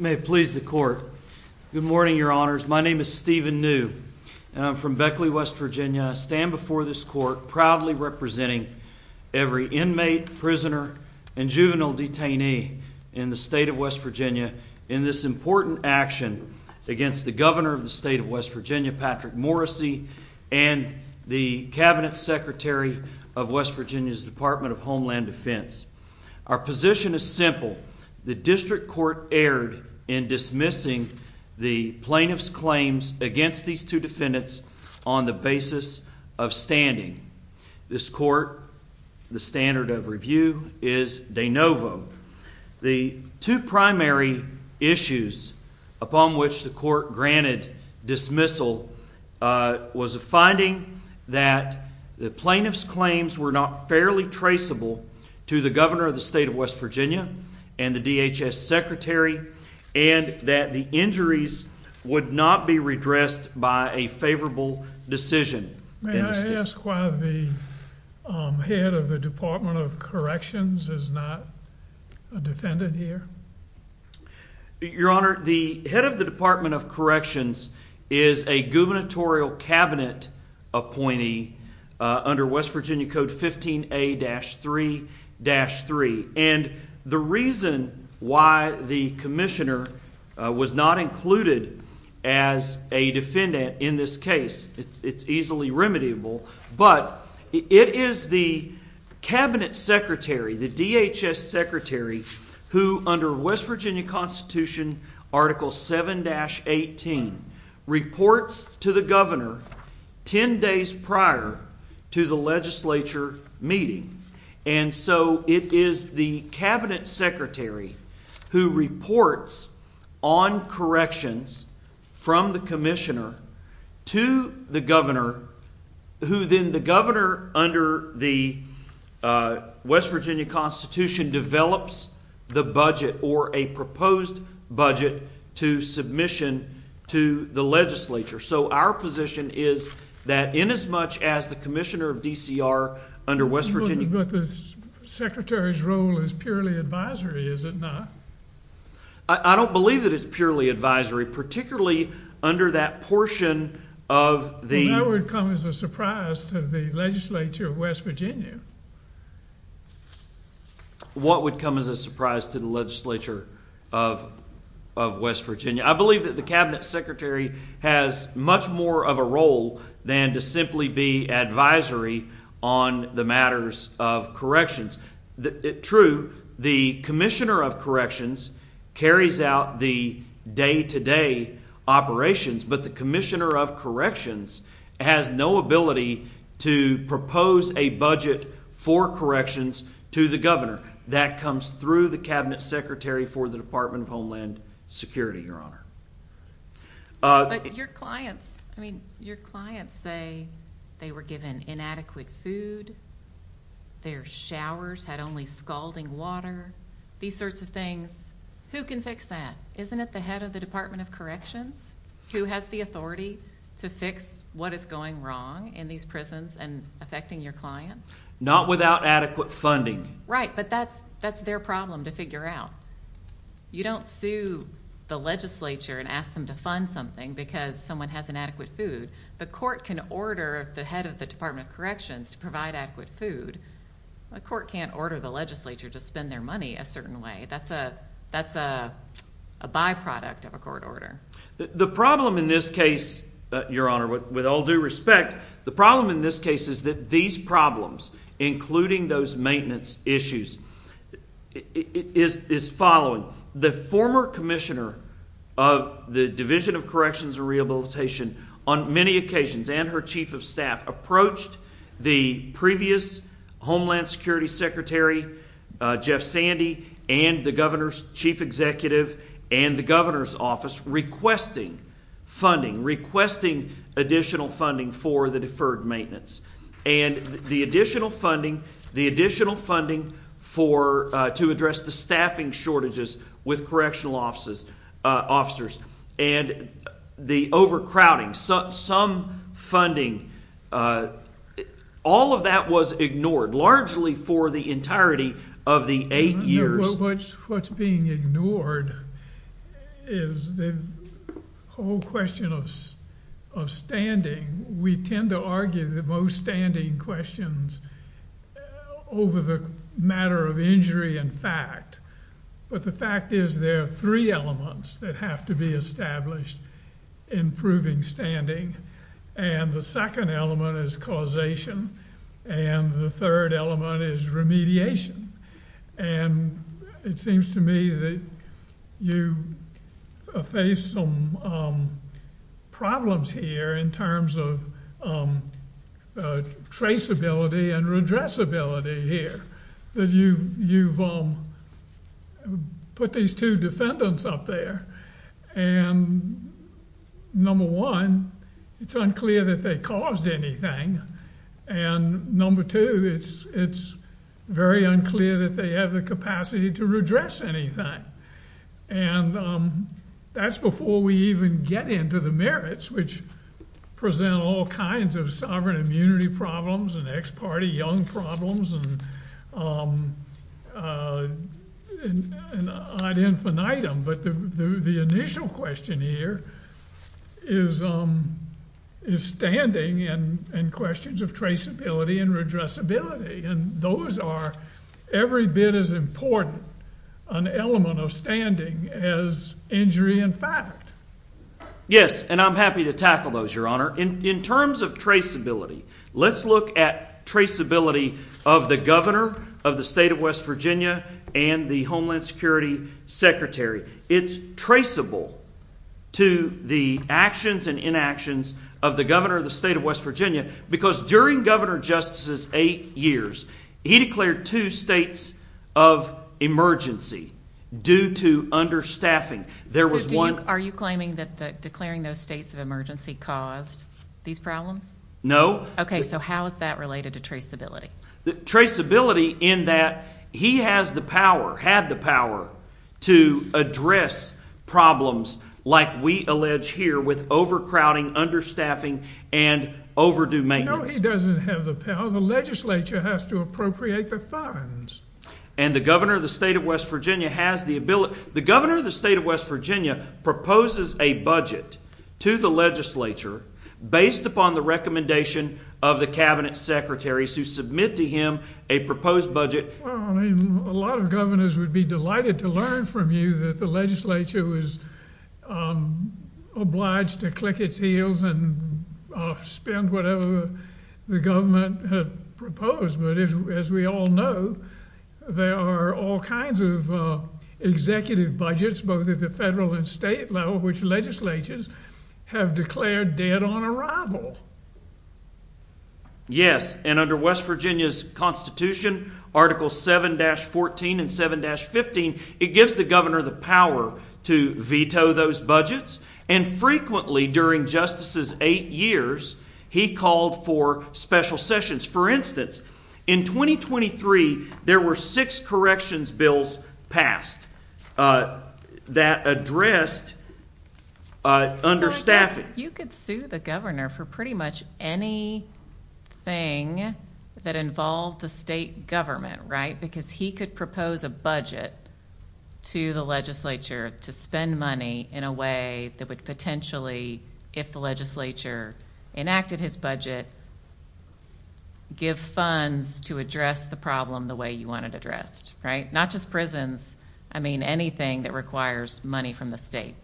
May it please the court. Good morning, your honors. My name is Stephen New from Beckley, West Virginia. Stand before this court proudly representing every inmate, prisoner and juvenile detainee in the state of West Virginia in this important action against the governor of the state of West Virginia, Patrick Morrissey and the cabinet secretary of West Virginia's Department of Homeland Defense. Our position is simple. The district court erred in dismissing the plaintiff's claims against these two defendants on the basis of standing this court. The standard of review is de novo. The two primary issues upon which the court granted dismissal was a finding that the plaintiff's claims were not fairly traceable to the governor of the state of West Virginia and the DHS secretary and that the injuries would not be redressed by a favorable decision. May I ask why the head of the Department of Corrections is not a defendant here? Your honor, the head of the Department of Corrections is a gubernatorial cabinet appointee under West Virginia Code 15 A-3-3. And the reason why the commissioner was not included as a defendant in this case, it's easily remediable, but it is the cabinet secretary, the DHS secretary, who under West Virginia Constitution Article 7-18 reports to the governor 10 days prior to the legislature meeting. And so it is the cabinet secretary who reports on corrections from the commissioner to the governor, who then the governor under the West Virginia Constitution develops the budget or a proposed budget to submission to the legislature. So our position is that in as much as the commissioner of DCR under West Virginia... But the secretary's role is purely advisory, is it not? I don't believe that it's purely advisory, particularly under that portion of the... That would come as a surprise to the legislature of West Virginia. What would come as a surprise to the legislature of West Virginia? I believe that the cabinet secretary has much more of a role than to simply be advisory on the matters of corrections. True, the commissioner of corrections carries out the day-to-day operations, but the commissioner of corrections has no ability to propose a budget for corrections to the governor. That comes through the cabinet secretary for the floor. But your clients, I mean, your clients say they were given inadequate food, their showers had only scalding water, these sorts of things. Who can fix that? Isn't it the head of the Department of Corrections who has the authority to fix what is going wrong in these prisons and affecting your clients? Not without adequate funding. Right, but that's their problem to figure out. You don't sue the legislature and ask them to fund something because someone has inadequate food. The court can order the head of the Department of Corrections to provide adequate food. A court can't order the legislature to spend their money a certain way. That's a byproduct of a court order. The problem in this case, your honor, with all due respect, the problem in this case is that these problems, including those maintenance issues, is following. The former commissioner of the Division of Corrections and Rehabilitation on many occasions and her chief of staff approached the previous Homeland Security Secretary, Jeff Sandy, and the governor's chief executive and the governor's office requesting funding, requesting additional funding for the deferred maintenance and the additional funding, the additional funding to address the staffing shortages with correctional officers and the overcrowding. Some funding, all of that was ignored, largely for the entirety of the eight years. What's being ignored is the whole question of standing. We tend to argue the most standing questions over the matter of injury and fact, but the fact is there are three elements that have to be established in proving standing and the second element is causation and the third element is remediation and it seems to me that you face some problems here in terms of traceability and redressability here that you've put these two defendants up there and number one, it's unclear that they caused anything and number two, it's very unclear that they have the capacity to redress anything and that's before we even get into the merits which present all kinds of sovereign immunity problems and ex parte young problems and ad infinitum, but the initial question here is standing and questions of traceability and redressability and those are every bit as important an element of standing as injury and fact. Yes, and I'm happy to tackle those, your honor. In terms of traceability, let's look at traceability of the governor of the state of West Virginia and the Homeland Security secretary. It's traceable to the actions and inactions of the governor of the state of West Virginia for just as eight years, he declared two states of emergency due to understaffing. There was one. Are you claiming that declaring those states of emergency caused these problems? No. Okay, so how is that related to traceability? Traceability in that he has the power, had the power to address problems like we allege here with overcrowding, understaffing and overdue maintenance. No, he doesn't have the power. The legislature has to appropriate the funds and the governor of the state of West Virginia has the ability. The governor of the state of West Virginia proposes a budget to the legislature based upon the recommendation of the cabinet secretaries who submit to him a proposed budget. A lot of governors would be delighted to learn from you that the legislature was obliged to click its heels and spend whatever the government had proposed. But as we all know, there are all kinds of executive budgets, both at the federal and state level, which legislatures have declared dead on arrival. Yes, and under West Virginia's Constitution, Article 7-14 and 7-15, it gives the governor the power to veto those budgets. And frequently during justices eight years, he called for special sessions. For instance, in 2023, there were six corrections bills passed that addressed understaffing. You could sue the governor for pretty much anything that involved the state government, right? Because he could propose a budget to the legislature to spend money in a way that would potentially, if the legislature enacted his budget, give funds to address the problem the way you want it addressed, right? Not just prisons. I mean, anything that requires money from the state.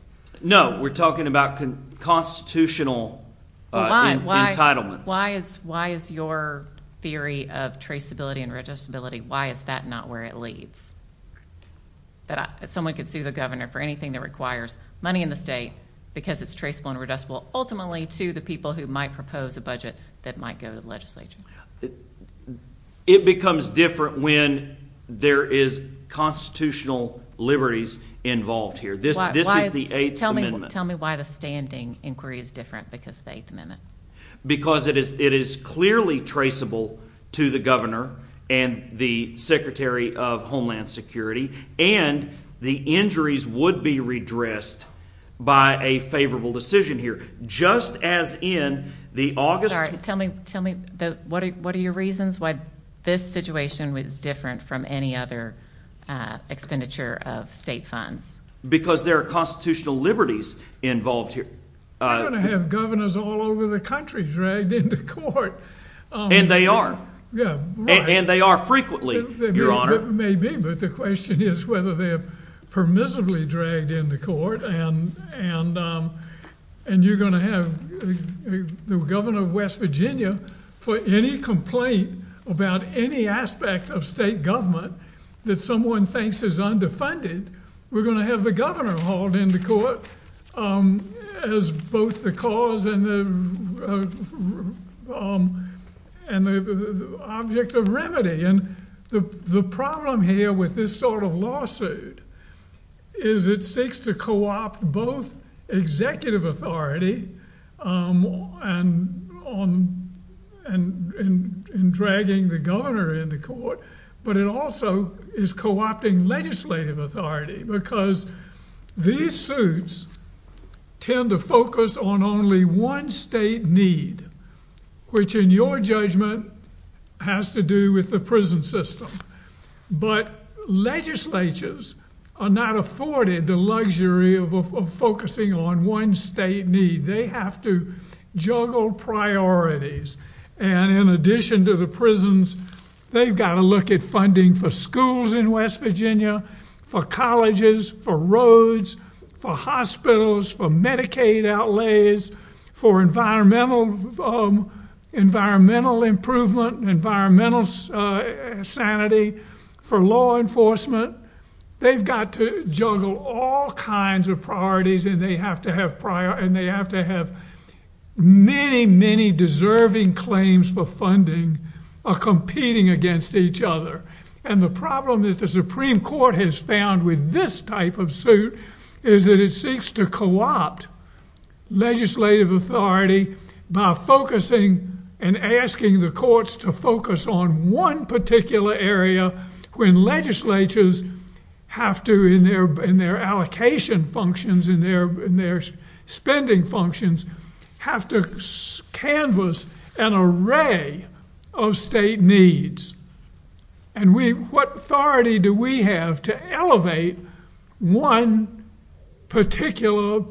No, we're talking about constitutional entitlements. Why is your theory of traceability and registerability, why is that not where it leads? That someone could sue the governor for anything that requires money in the state because it's traceable and reducible, ultimately to the people who might propose a budget that might go to the legislature. It becomes different when there is constitutional liberties involved here. This is the Eighth Amendment. Tell me why the standing inquiry is different because of the Eighth Amendment. Because it is clearly traceable to the and the Secretary of Homeland Security and the injuries would be redressed by a favorable decision here, just as in the August... Sorry, tell me, tell me, what are your reasons why this situation was different from any other expenditure of state funds? Because there are constitutional liberties involved here. We're going to have governors all over the country dragged into court. And they are. Yeah. And they are frequently, Your Honor. Maybe, but the question is whether they have permissibly dragged into court and you're going to have the governor of West Virginia, for any complaint about any aspect of state government that someone thinks is undefended, we're going to have the governor hauled into court as both the cause and the object of remedy. And the problem here with this sort of lawsuit is it seeks to co-opt both executive authority and dragging the governor into court, but it also is co-opting legislative authority because these lawsuits tend to focus on only one state need, which in your judgment has to do with the prison system. But legislatures are not afforded the luxury of focusing on one state need. They have to juggle priorities. And in addition to the prisons, they've got to look at funding for schools in West Virginia, for colleges, for roads, for hospitals, for Medicaid outlays, for environmental improvement, environmental sanity, for law enforcement. They've got to juggle all kinds of priorities and they have to have prior and they have to have many, many deserving claims for competing against each other. And the problem that the Supreme Court has found with this type of suit is that it seeks to co-opt legislative authority by focusing and asking the courts to focus on one particular area when legislatures have to, in their allocation functions, in their spending functions, have to canvas an array of state needs. And what authority do we have to elevate one particular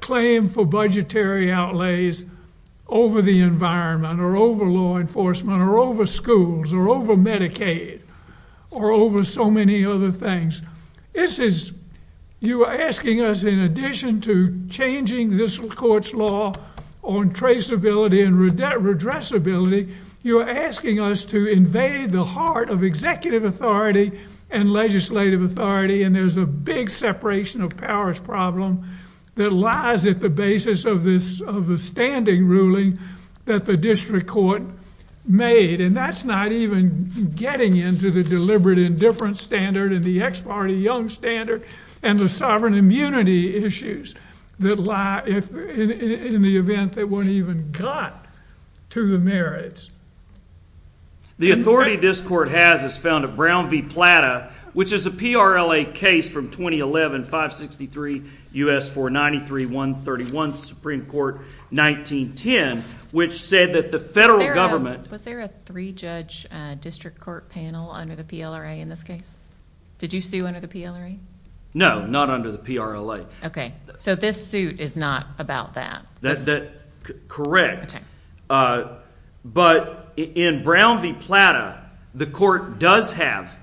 claim for budgetary outlays over the environment, or over law enforcement, or over schools, or over Medicaid, or over so many other things? This is, you are asking us, in addition to changing this court's law on traceability and redressability, you are asking us to invade the heart of executive authority and legislative authority. And there's a big separation of powers problem that lies at the basis of the standing ruling that the district court made. And that's not even getting into the deliberate indifference standard and the ex parte young standard and the sovereign immunity issues that lie in the event that one even got to the merits. The authority this court has is found at Brown v. Plata, which is a PRLA case from 2011, 563 U.S. 493-131, Supreme Court 1910, which said that the federal government... Was there a three-judge district court panel under the PLRA in this case? Did you sue under the PLRA? No, not under the PRLA. Okay, so this suit is not about that. That's correct. But in Brown v. Plata, the court does have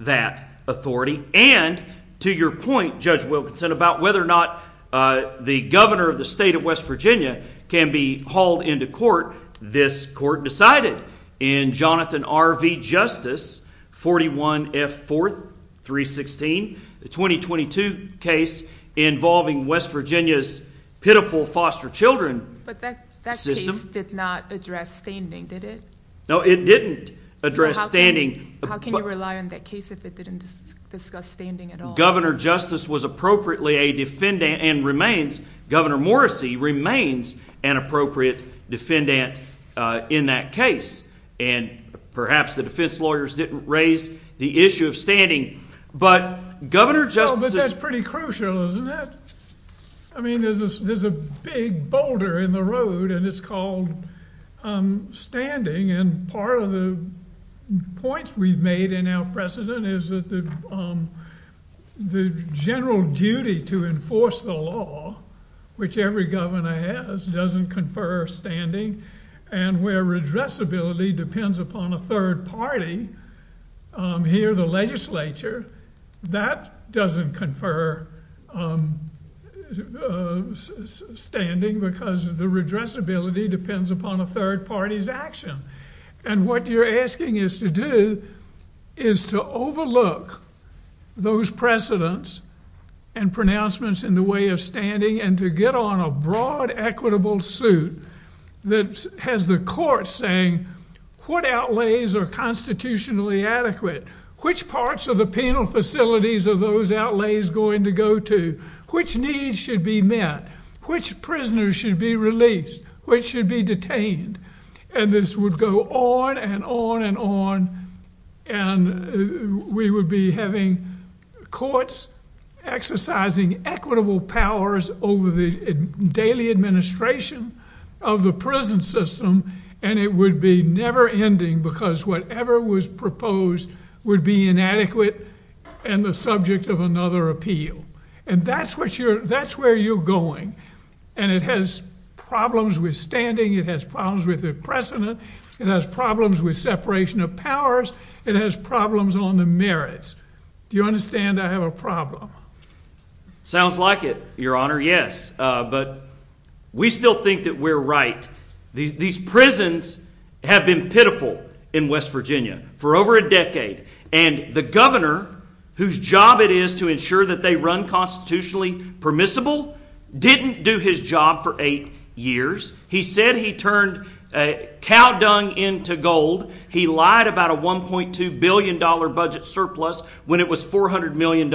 that authority. And to your point, Judge Wilkinson, about whether or not the governor of the state of West Virginia can be hauled into court, this court decided in Jonathan R. V. Justice, 41 F. 4th, 316, the 2022 case involving West Virginia's pitiful foster children. But that case did not address standing, did it? No, it didn't address standing. How can you rely on that case if it didn't discuss standing at all? Governor Justice was appropriately a defendant and remains, Governor Morrissey remains an appropriate defendant in that case. And perhaps the defense lawyers didn't raise the issue of standing. But Governor Justice... But that's pretty crucial, isn't it? I mean, there's a big boulder in the road and it's called standing. And part of the points we've made in our precedent is that the general duty to enforce the law, which every governor has, doesn't confer standing. And where redressability depends upon a third party, here the legislature, that doesn't confer standing because the redressability depends upon a third party's action. And what you're asking us to do is to overlook those precedents and pronouncements in the way of standing and to get on a broad equitable suit that has the court saying what outlays are constitutionally adequate, which parts of the penal facilities are those outlays going to go to, which needs should be met, which prisoners should be released, which should be detained. And this would go on and on and on. And we would be having courts exercising equitable powers over the daily administration of the prison system. And it would be never ending because whatever was proposed would be inadequate and the subject of another appeal. And that's where you're going. And it has problems with standing. It has problems with the precedent. It has problems with separation of powers. It has problems on the merits. Do you understand I have a problem? Sounds like it, Your Honor. Yes, but we still think that we're right. These prisons have been pitiful in West Virginia for over a decade, and the governor, whose job it is to ensure that they run constitutionally permissible, didn't do his job for eight years. He said he turned a cow dung into gold. He lied about a $1.2 billion budget surplus when it was $400 million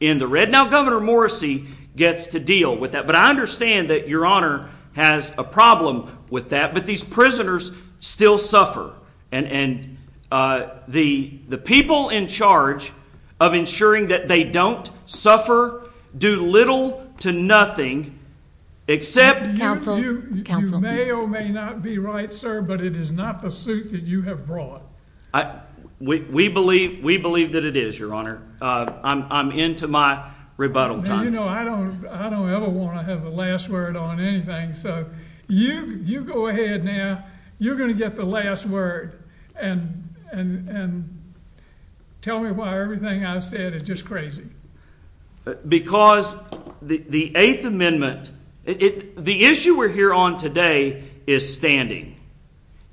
in the red. Now, Governor Morrissey gets to deal with that. But I understand that Your Honor has a problem with that. But these prisoners still suffer, and the people in charge of ensuring that they don't suffer, do little to nothing, except you may or may not be right, sir, but it is not the suit that you have brought. We believe that it is, Your Honor. I'm into my rebuttal time. You know, I don't ever want to have the last word on anything. So you go ahead now. You're going to get the last word and tell me why everything I said is just crazy. Because the Eighth Amendment, the issue we're here on today is standing,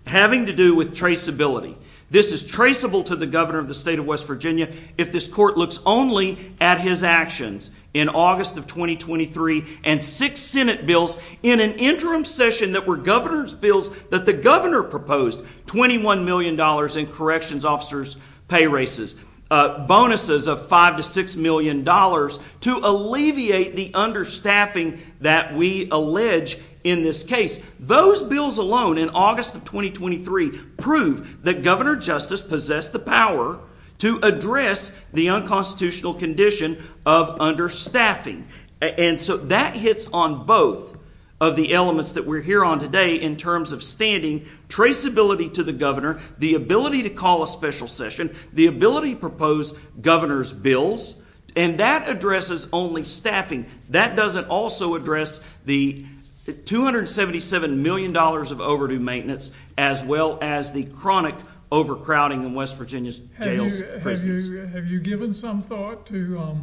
having to do with traceability. This is traceable to the governor of the state of West Virginia. If this court looks only at his actions in August of 2023 and six Senate bills in an interim session that were governor's bills that the governor proposed, $21 million in corrections officers' pay bonuses of $5 to $6 million to alleviate the understaffing that we allege in this case. Those bills alone in August of 2023 prove that Governor Justice possessed the power to address the unconstitutional condition of understaffing. And so that hits on both of the elements that we're here on today in terms of standing traceability to the ability to call a special session, the ability to propose governor's bills, and that addresses only staffing. That doesn't also address the $277 million of overdue maintenance as well as the chronic overcrowding in West Virginia's jails. Have you given some thought to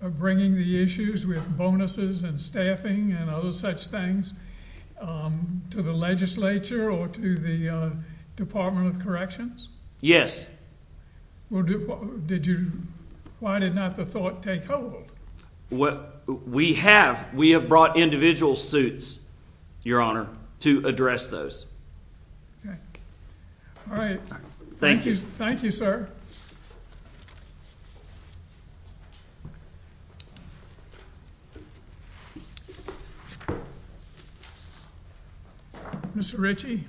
bringing the issues with bonuses and staffing and other such things to the legislature or to the Department of Corrections? Well, did you? Why did not the thought take hold? Well, we have. We have brought individual suits, Your Honor, to address those. Okay. All right. Thank you. Thank you, sir. Thank you, Mr Ritchie.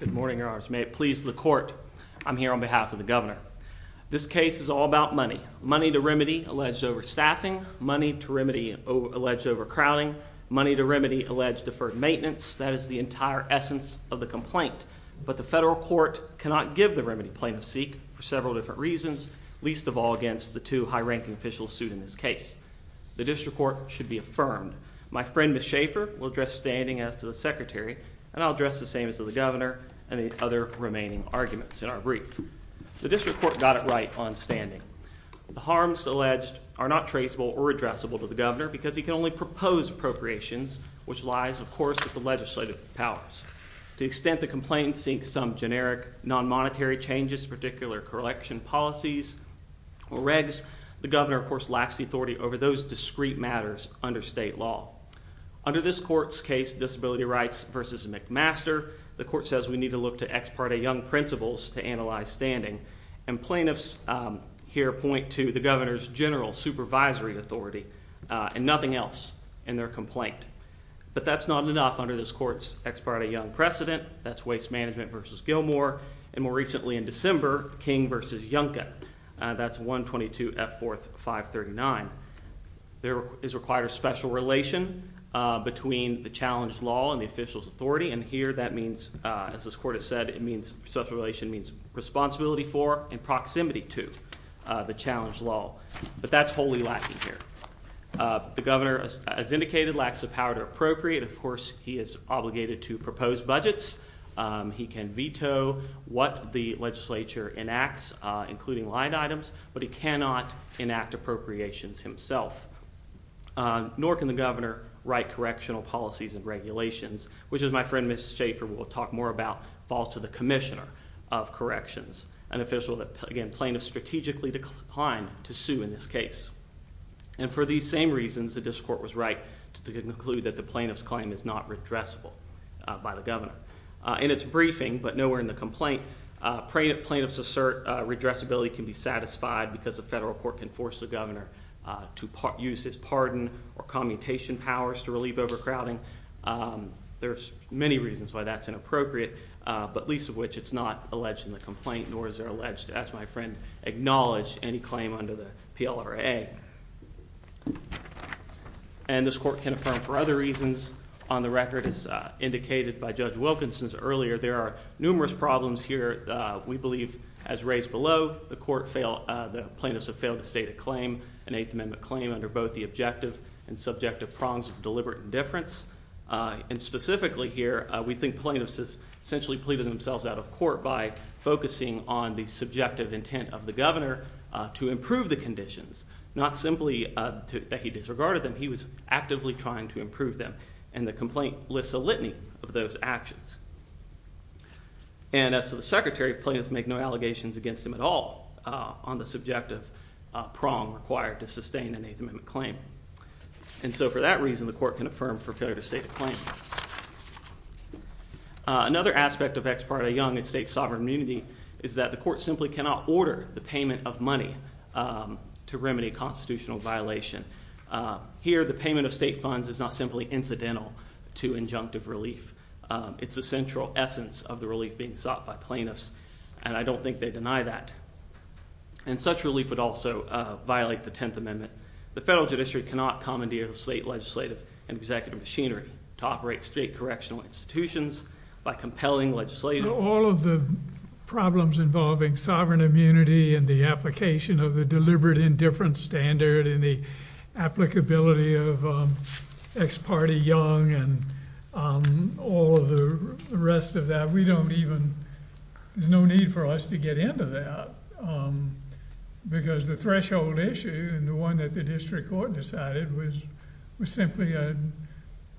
Good morning, Your Honors. May it please the court. I'm here on behalf of the governor. This case is all about money. Money to remedy alleged overstaffing money to remedy alleged overcrowding money to remedy alleged deferred maintenance. That is the entire essence of the complaint. But the federal court cannot give the remedy plaintiff's seek for several different reasons, least of all against the two high ranking officials sued in this case. The address standing as to the secretary, and I'll address the same as to the governor and the other remaining arguments in our brief. The district court got it right on standing. The harms alleged are not traceable or addressable to the governor because he can only propose appropriations, which lies, of course, with the legislative powers to extent. The complaint seeks some generic non monetary changes, particular collection policies or regs. The governor, of course, lacks the authority over those discreet matters under state law. Under this court's case, disability rights versus McMaster, the court says we need to look to ex parte young principles to analyze standing and plaintiffs here point to the governor's general supervisory authority and nothing else in their complaint. But that's not enough under this court's ex parte young precedent. That's waste management versus Gilmore and more recently in December, King versus Yanka. That's 1 22 at 4 5 39. There is required a special relation between the challenge law and the official's authority. And here that means, as this court has said, it means special relation means responsibility for in proximity to the challenge law. But that's wholly lacking here. The governor, as indicated, lacks the power to appropriate. Of course, he is obligated to propose budgets. He can veto what the Legislature enacts, including line items. But he cannot enact appropriations himself, nor can the governor write correctional policies and regulations, which is my friend Miss Schaefer will talk more about falls to the commissioner of corrections and official that again plaintiff strategically declined to sue in this case. And for these same reasons, the discord was right to conclude that the plaintiff's claim is not redressable by the governor in its briefing. But nowhere in the complaint prayed plaintiffs assert redress ability can be satisfied because the federal court can force the governor to use his pardon or commutation powers to relieve overcrowding. Um, there's many reasons why that's inappropriate, but least of which it's not alleged in the complaint, nor is there alleged, as my friend acknowledged any claim under the P. L. R. A. And this court can affirm for other reasons on the record is indicated by Judge Wilkinson's earlier. There are numerous problems here. We the court fail. The plaintiffs have failed to state a claim, an eighth amendment claim under both the objective and subjective prongs of deliberate indifference. Uh, and specifically here, we think plaintiffs have essentially pleaded themselves out of court by focusing on the subjective intent of the governor to improve the conditions, not simply that he disregarded them. He was actively trying to improve them. And the complaint lists a litany of those actions. And as to the secretary, plaintiffs make no allegations against him at all on the subjective prong required to sustain an eighth amendment claim. And so for that reason, the court can affirm for failure to state a claim. Another aspect of ex parte young and state sovereign immunity is that the court simply cannot order the payment of money, um, to remedy constitutional violation. Uh, here, the payment of state funds is not simply incidental to injunctive relief. It's a simple matter of central essence of the relief being sought by plaintiffs, and I don't think they deny that. And such relief would also violate the 10th Amendment. The federal judiciary cannot commandeer the state legislative and executive machinery to operate state correctional institutions by compelling legislative all of the problems involving sovereign immunity and the application of the deliberate indifference standard in the applicability of ex parte young and all of the rest of that. We don't even, there's no need for us to get into that. Um, because the threshold issue and the one that the district court decided was, was simply, uh,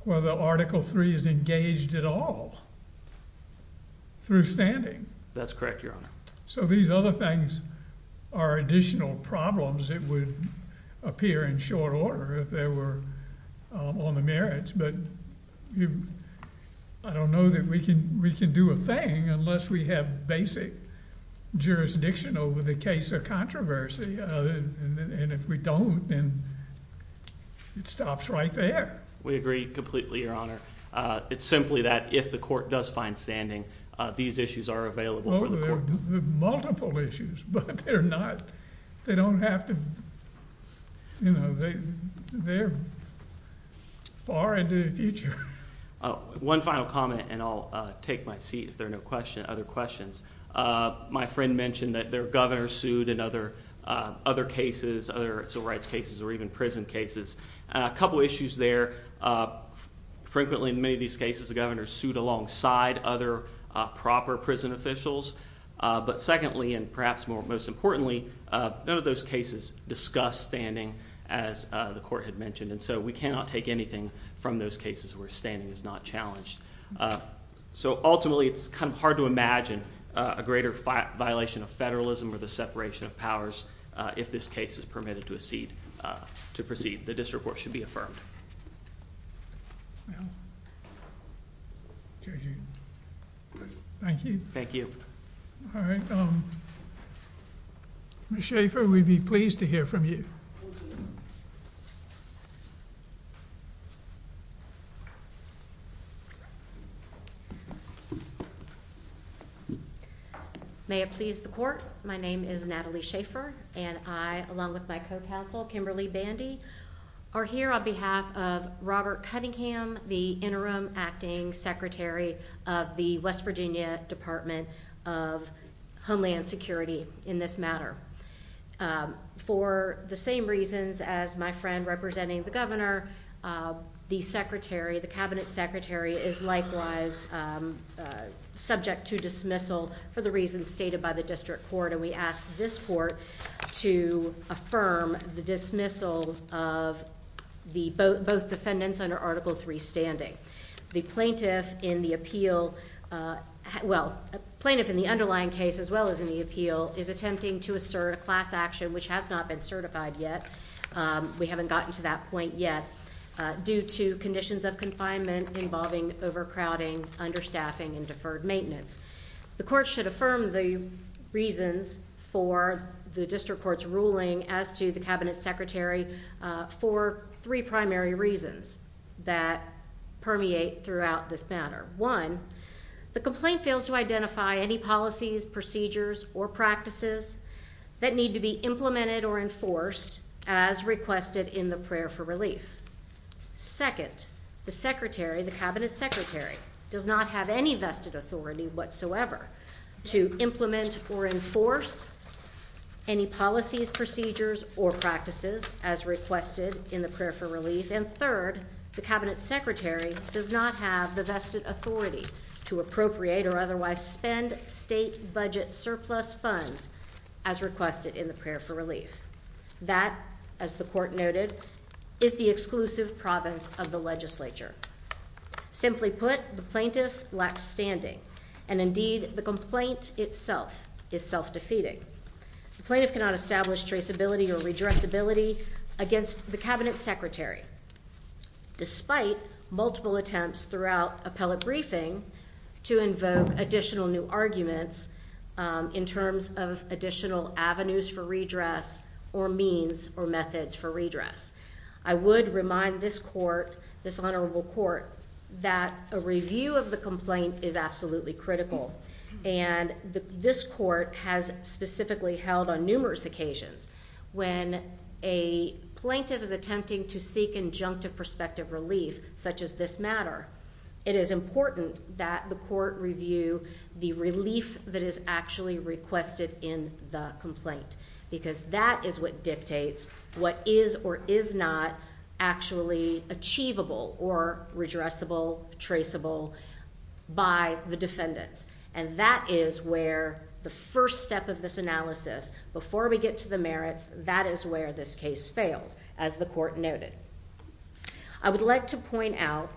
whether Article three is engaged at all through standing. That's correct, Your Honor. So these other things are additional problems. It would appear in short order if they were on the merits, but I don't know that we can. We can do a thing unless we have basic jurisdiction over the case of controversy. And if we don't, then it stops right there. We agree completely, Your Honor. It's simply that if the court does find standing, these issues are available for the multiple issues, but they're not, they don't have to, you know, they're far into the future. Oh, one final comment and I'll take my seat if there are no question. Other questions. Uh, my friend mentioned that their governor sued and other, uh, other cases, other civil rights cases or even prison cases. A couple issues there. Uh, frequently in many of these cases the governor sued alongside other proper prison officials. Uh, but secondly, and perhaps more most importantly, uh, none of those cases discuss standing as the court had mentioned. And so we cannot take anything from those cases where standing is not challenged. Uh, so ultimately it's kind of hard to imagine a greater violation of federalism or the separation of powers. If this case is permitted to a seat, uh, to proceed, the district court should be affirmed. Judging. Thank you. Thank you. All right. Um, Mr Schaefer, we'd be pleased to hear from you. May it please the court. My name is Natalie Schaefer and I, along with my co council, Kimberly Bandy are here on behalf of Robert Cunningham, the interim acting secretary of the West Virginia Department of Homeland Security in this matter. Um, for the same reasons as my friend representing the governor, uh, the secretary, the cabinet secretary is likewise, um, subject to dismissal for the reasons stated by the district court. And we asked this court to affirm the dismissal of the both both defendants under Article three standing the plaintiff in the appeal. Uh, well, plaintiff in the underlying case as well as in the appeal is attempting to assert a class action which has not been certified yet. Um, we haven't gotten to that point yet due to conditions of confinement involving overcrowding, understaffing and deferred maintenance. The court should affirm the reasons for the district court's ruling as to the cabinet secretary for three primary reasons that permeate throughout this matter. One, the complaint fails to identify any policies, procedures or practices that need to be implemented or enforced as requested in the prayer for relief. Second, the secretary, the cabinet secretary does not have any vested authority whatsoever to implement or enforce any policies, procedures or practices as requested in the prayer for relief. And third, the cabinet secretary does not have the vested authority to appropriate or otherwise spend state budget surplus funds as requested in the prayer for relief. That, as the court noted, is the exclusive province of the legislature. Simply put, the plaintiff lacks standing and indeed the complaint itself is self defeating. The plaintiff cannot establish traceability or address ability against the cabinet secretary, despite multiple attempts throughout appellate briefing to invoke additional new arguments in terms of additional avenues for redress or means or methods for redress. I would remind this court, this honorable court, that a review of the complaint is absolutely critical. And this court has specifically held on numerous occasions. When a plaintiff is attempting to seek injunctive prospective relief, such as this matter, it is important that the court review the relief that is actually requested in the complaint, because that is what dictates what is or is not actually achievable or redressable, traceable by the defendants. And that is where the first step of this analysis. Before we get to the merits, that is where this case fails, as the court noted. I would like to point out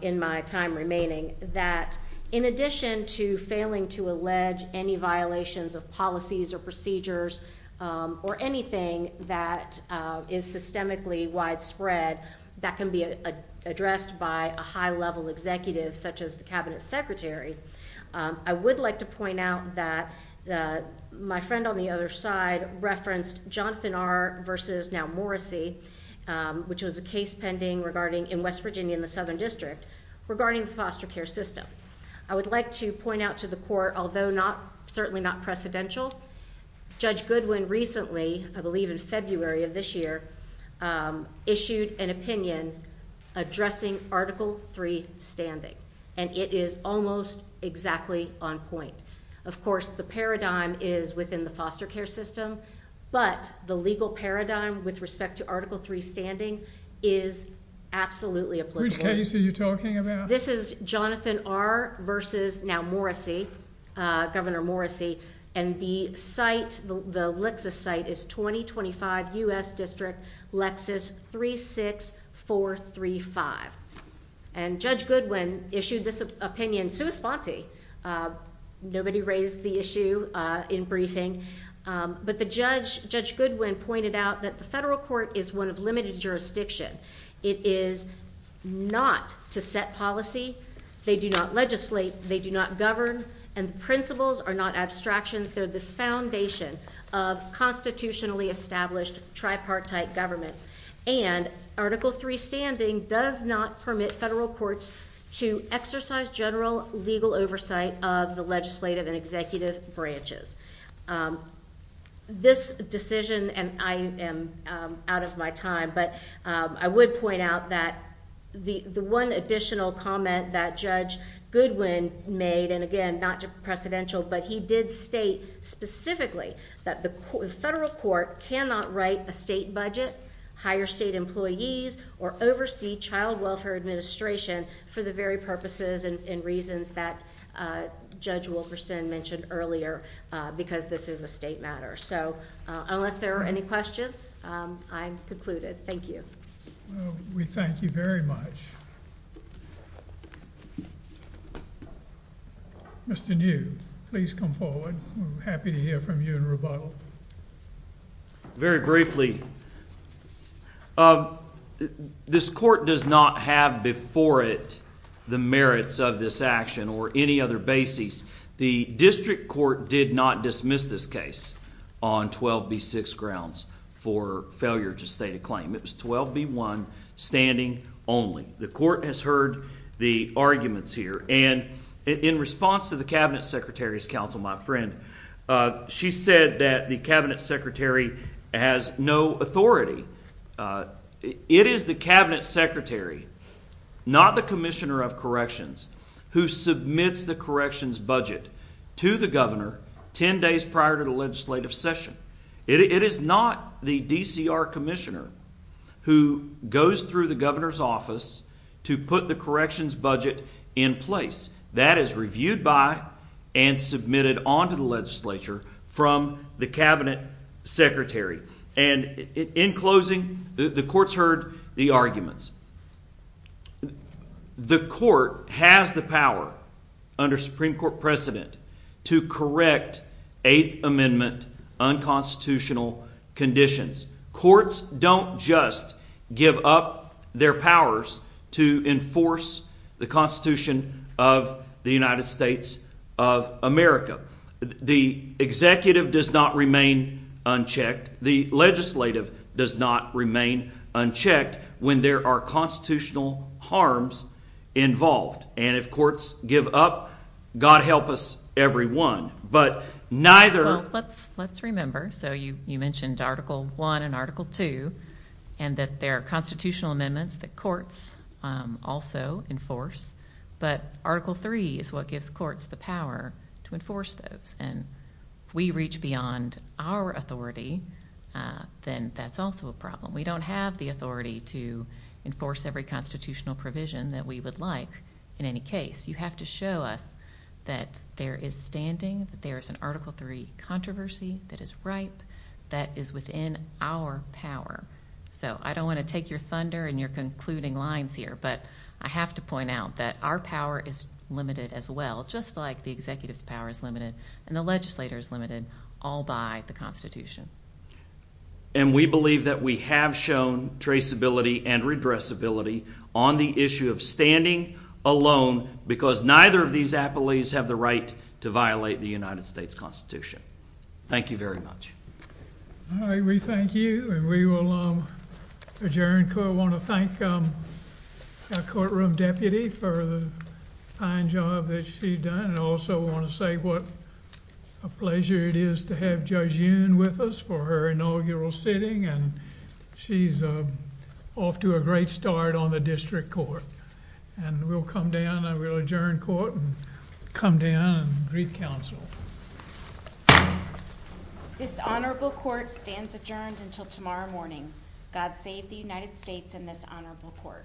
in my time remaining that in addition to failing to allege any violations of policies or procedures or anything that is systemically widespread that can be addressed by a high level executive, such as the cabinet secretary. I would like to point out that my friend on the other side referenced Jonathan R. versus now Morrissey, which was a case pending in West Virginia in the Southern District, regarding the foster care system. I would like to point out to the court, although certainly not precedential, Judge Goodwin recently, I believe in February of this year, issued an opinion addressing Article three standing, and it is almost exactly on point. Of course, the paradigm is within the foster care system, but the legal paradigm with respect to Article three standing is absolutely a case that you're talking about. This is Jonathan are versus now Morrissey, Governor Morrissey and the Lexus site is 2025 U.S. District Lexus 36435, and Judge Goodwin issued this opinion sui sponte. Nobody raised the issue in briefing, but the judge, Judge Goodwin, pointed out that the federal court is one of limited jurisdiction. It is not to set policy. They do not legislate. They do not principles are not abstractions. They're the foundation of constitutionally established tripartite government, and Article three standing does not permit federal courts to exercise general legal oversight of the legislative and executive branches. Um, this decision and I am out of my time, but I would point out that the one additional comment that Judge Goodwin made and again, not just precedential, but he did state specifically that the federal court cannot write a state budget, higher state employees or oversee child welfare administration for the very purposes and reasons that Judge Wilkerson mentioned earlier because this is a state matter. So unless there are any questions, I'm concluded. Thank you. We thank you very much. Mr. New, please come forward. Happy to hear from you and rebuttal very briefly. Um, this court does not have before it the merits of this action or any other basis. The district court did not dismiss this case on 12 B six grounds for failure to state a claim. It was 12 B one standing only. The court has heard the arguments here and in response to the Cabinet Secretary's counsel, my friend, uh, she said that the Cabinet Secretary has no authority. Uh, it is the Cabinet Secretary, not the commissioner of corrections who submits the corrections budget to the governor 10 days prior to the legislative session. It is not the D. C. R. Commissioner who goes through the governor's office to put the corrections budget in place that is reviewed by and submitted onto the Legislature from the Cabinet Secretary. And in closing, the courts heard the arguments. The court has the power under Supreme Court precedent to correct Eighth Amendment unconstitutional conditions. Courts don't just give up their powers to enforce the Constitution of the United States of America. The executive does not remain unchecked. The legislative does not remain unchecked when there are constitutional harms involved. And if courts give up, God help us everyone. But neither let's let's remember. So you mentioned Article one and Article two and that there are constitutional amendments that courts also enforce. But Article three is what gives courts the power to enforce those. And we reach beyond our authority. Uh, then that's also a problem. We don't have the authority to enforce every constitutional provision that we would like. In any case, you have to show us that there is standing that there is an Article three controversy that is right, that is within our power. So I don't want to take your thunder and you're concluding lines here. But I have to point out that our power is limited as well, just like the executive's power is limited and the legislators limited all by the Constitution. And we believe that we have shown traceability and redress ability on the issue of standing alone because neither of these appellees have the right to violate the United States Constitution. Thank you very much. All right, we thank you and we will adjourn. I want to thank courtroom deputy for the fine job that she done and also want to say what a pleasure it is to have Judge Yoon with us for her inaugural sitting and she's off to a great start on the district court and we'll come down and we'll adjourn court and come down and greet counsel. This honorable court stands adjourned until tomorrow morning. God save the United States in this honorable court. Yeah.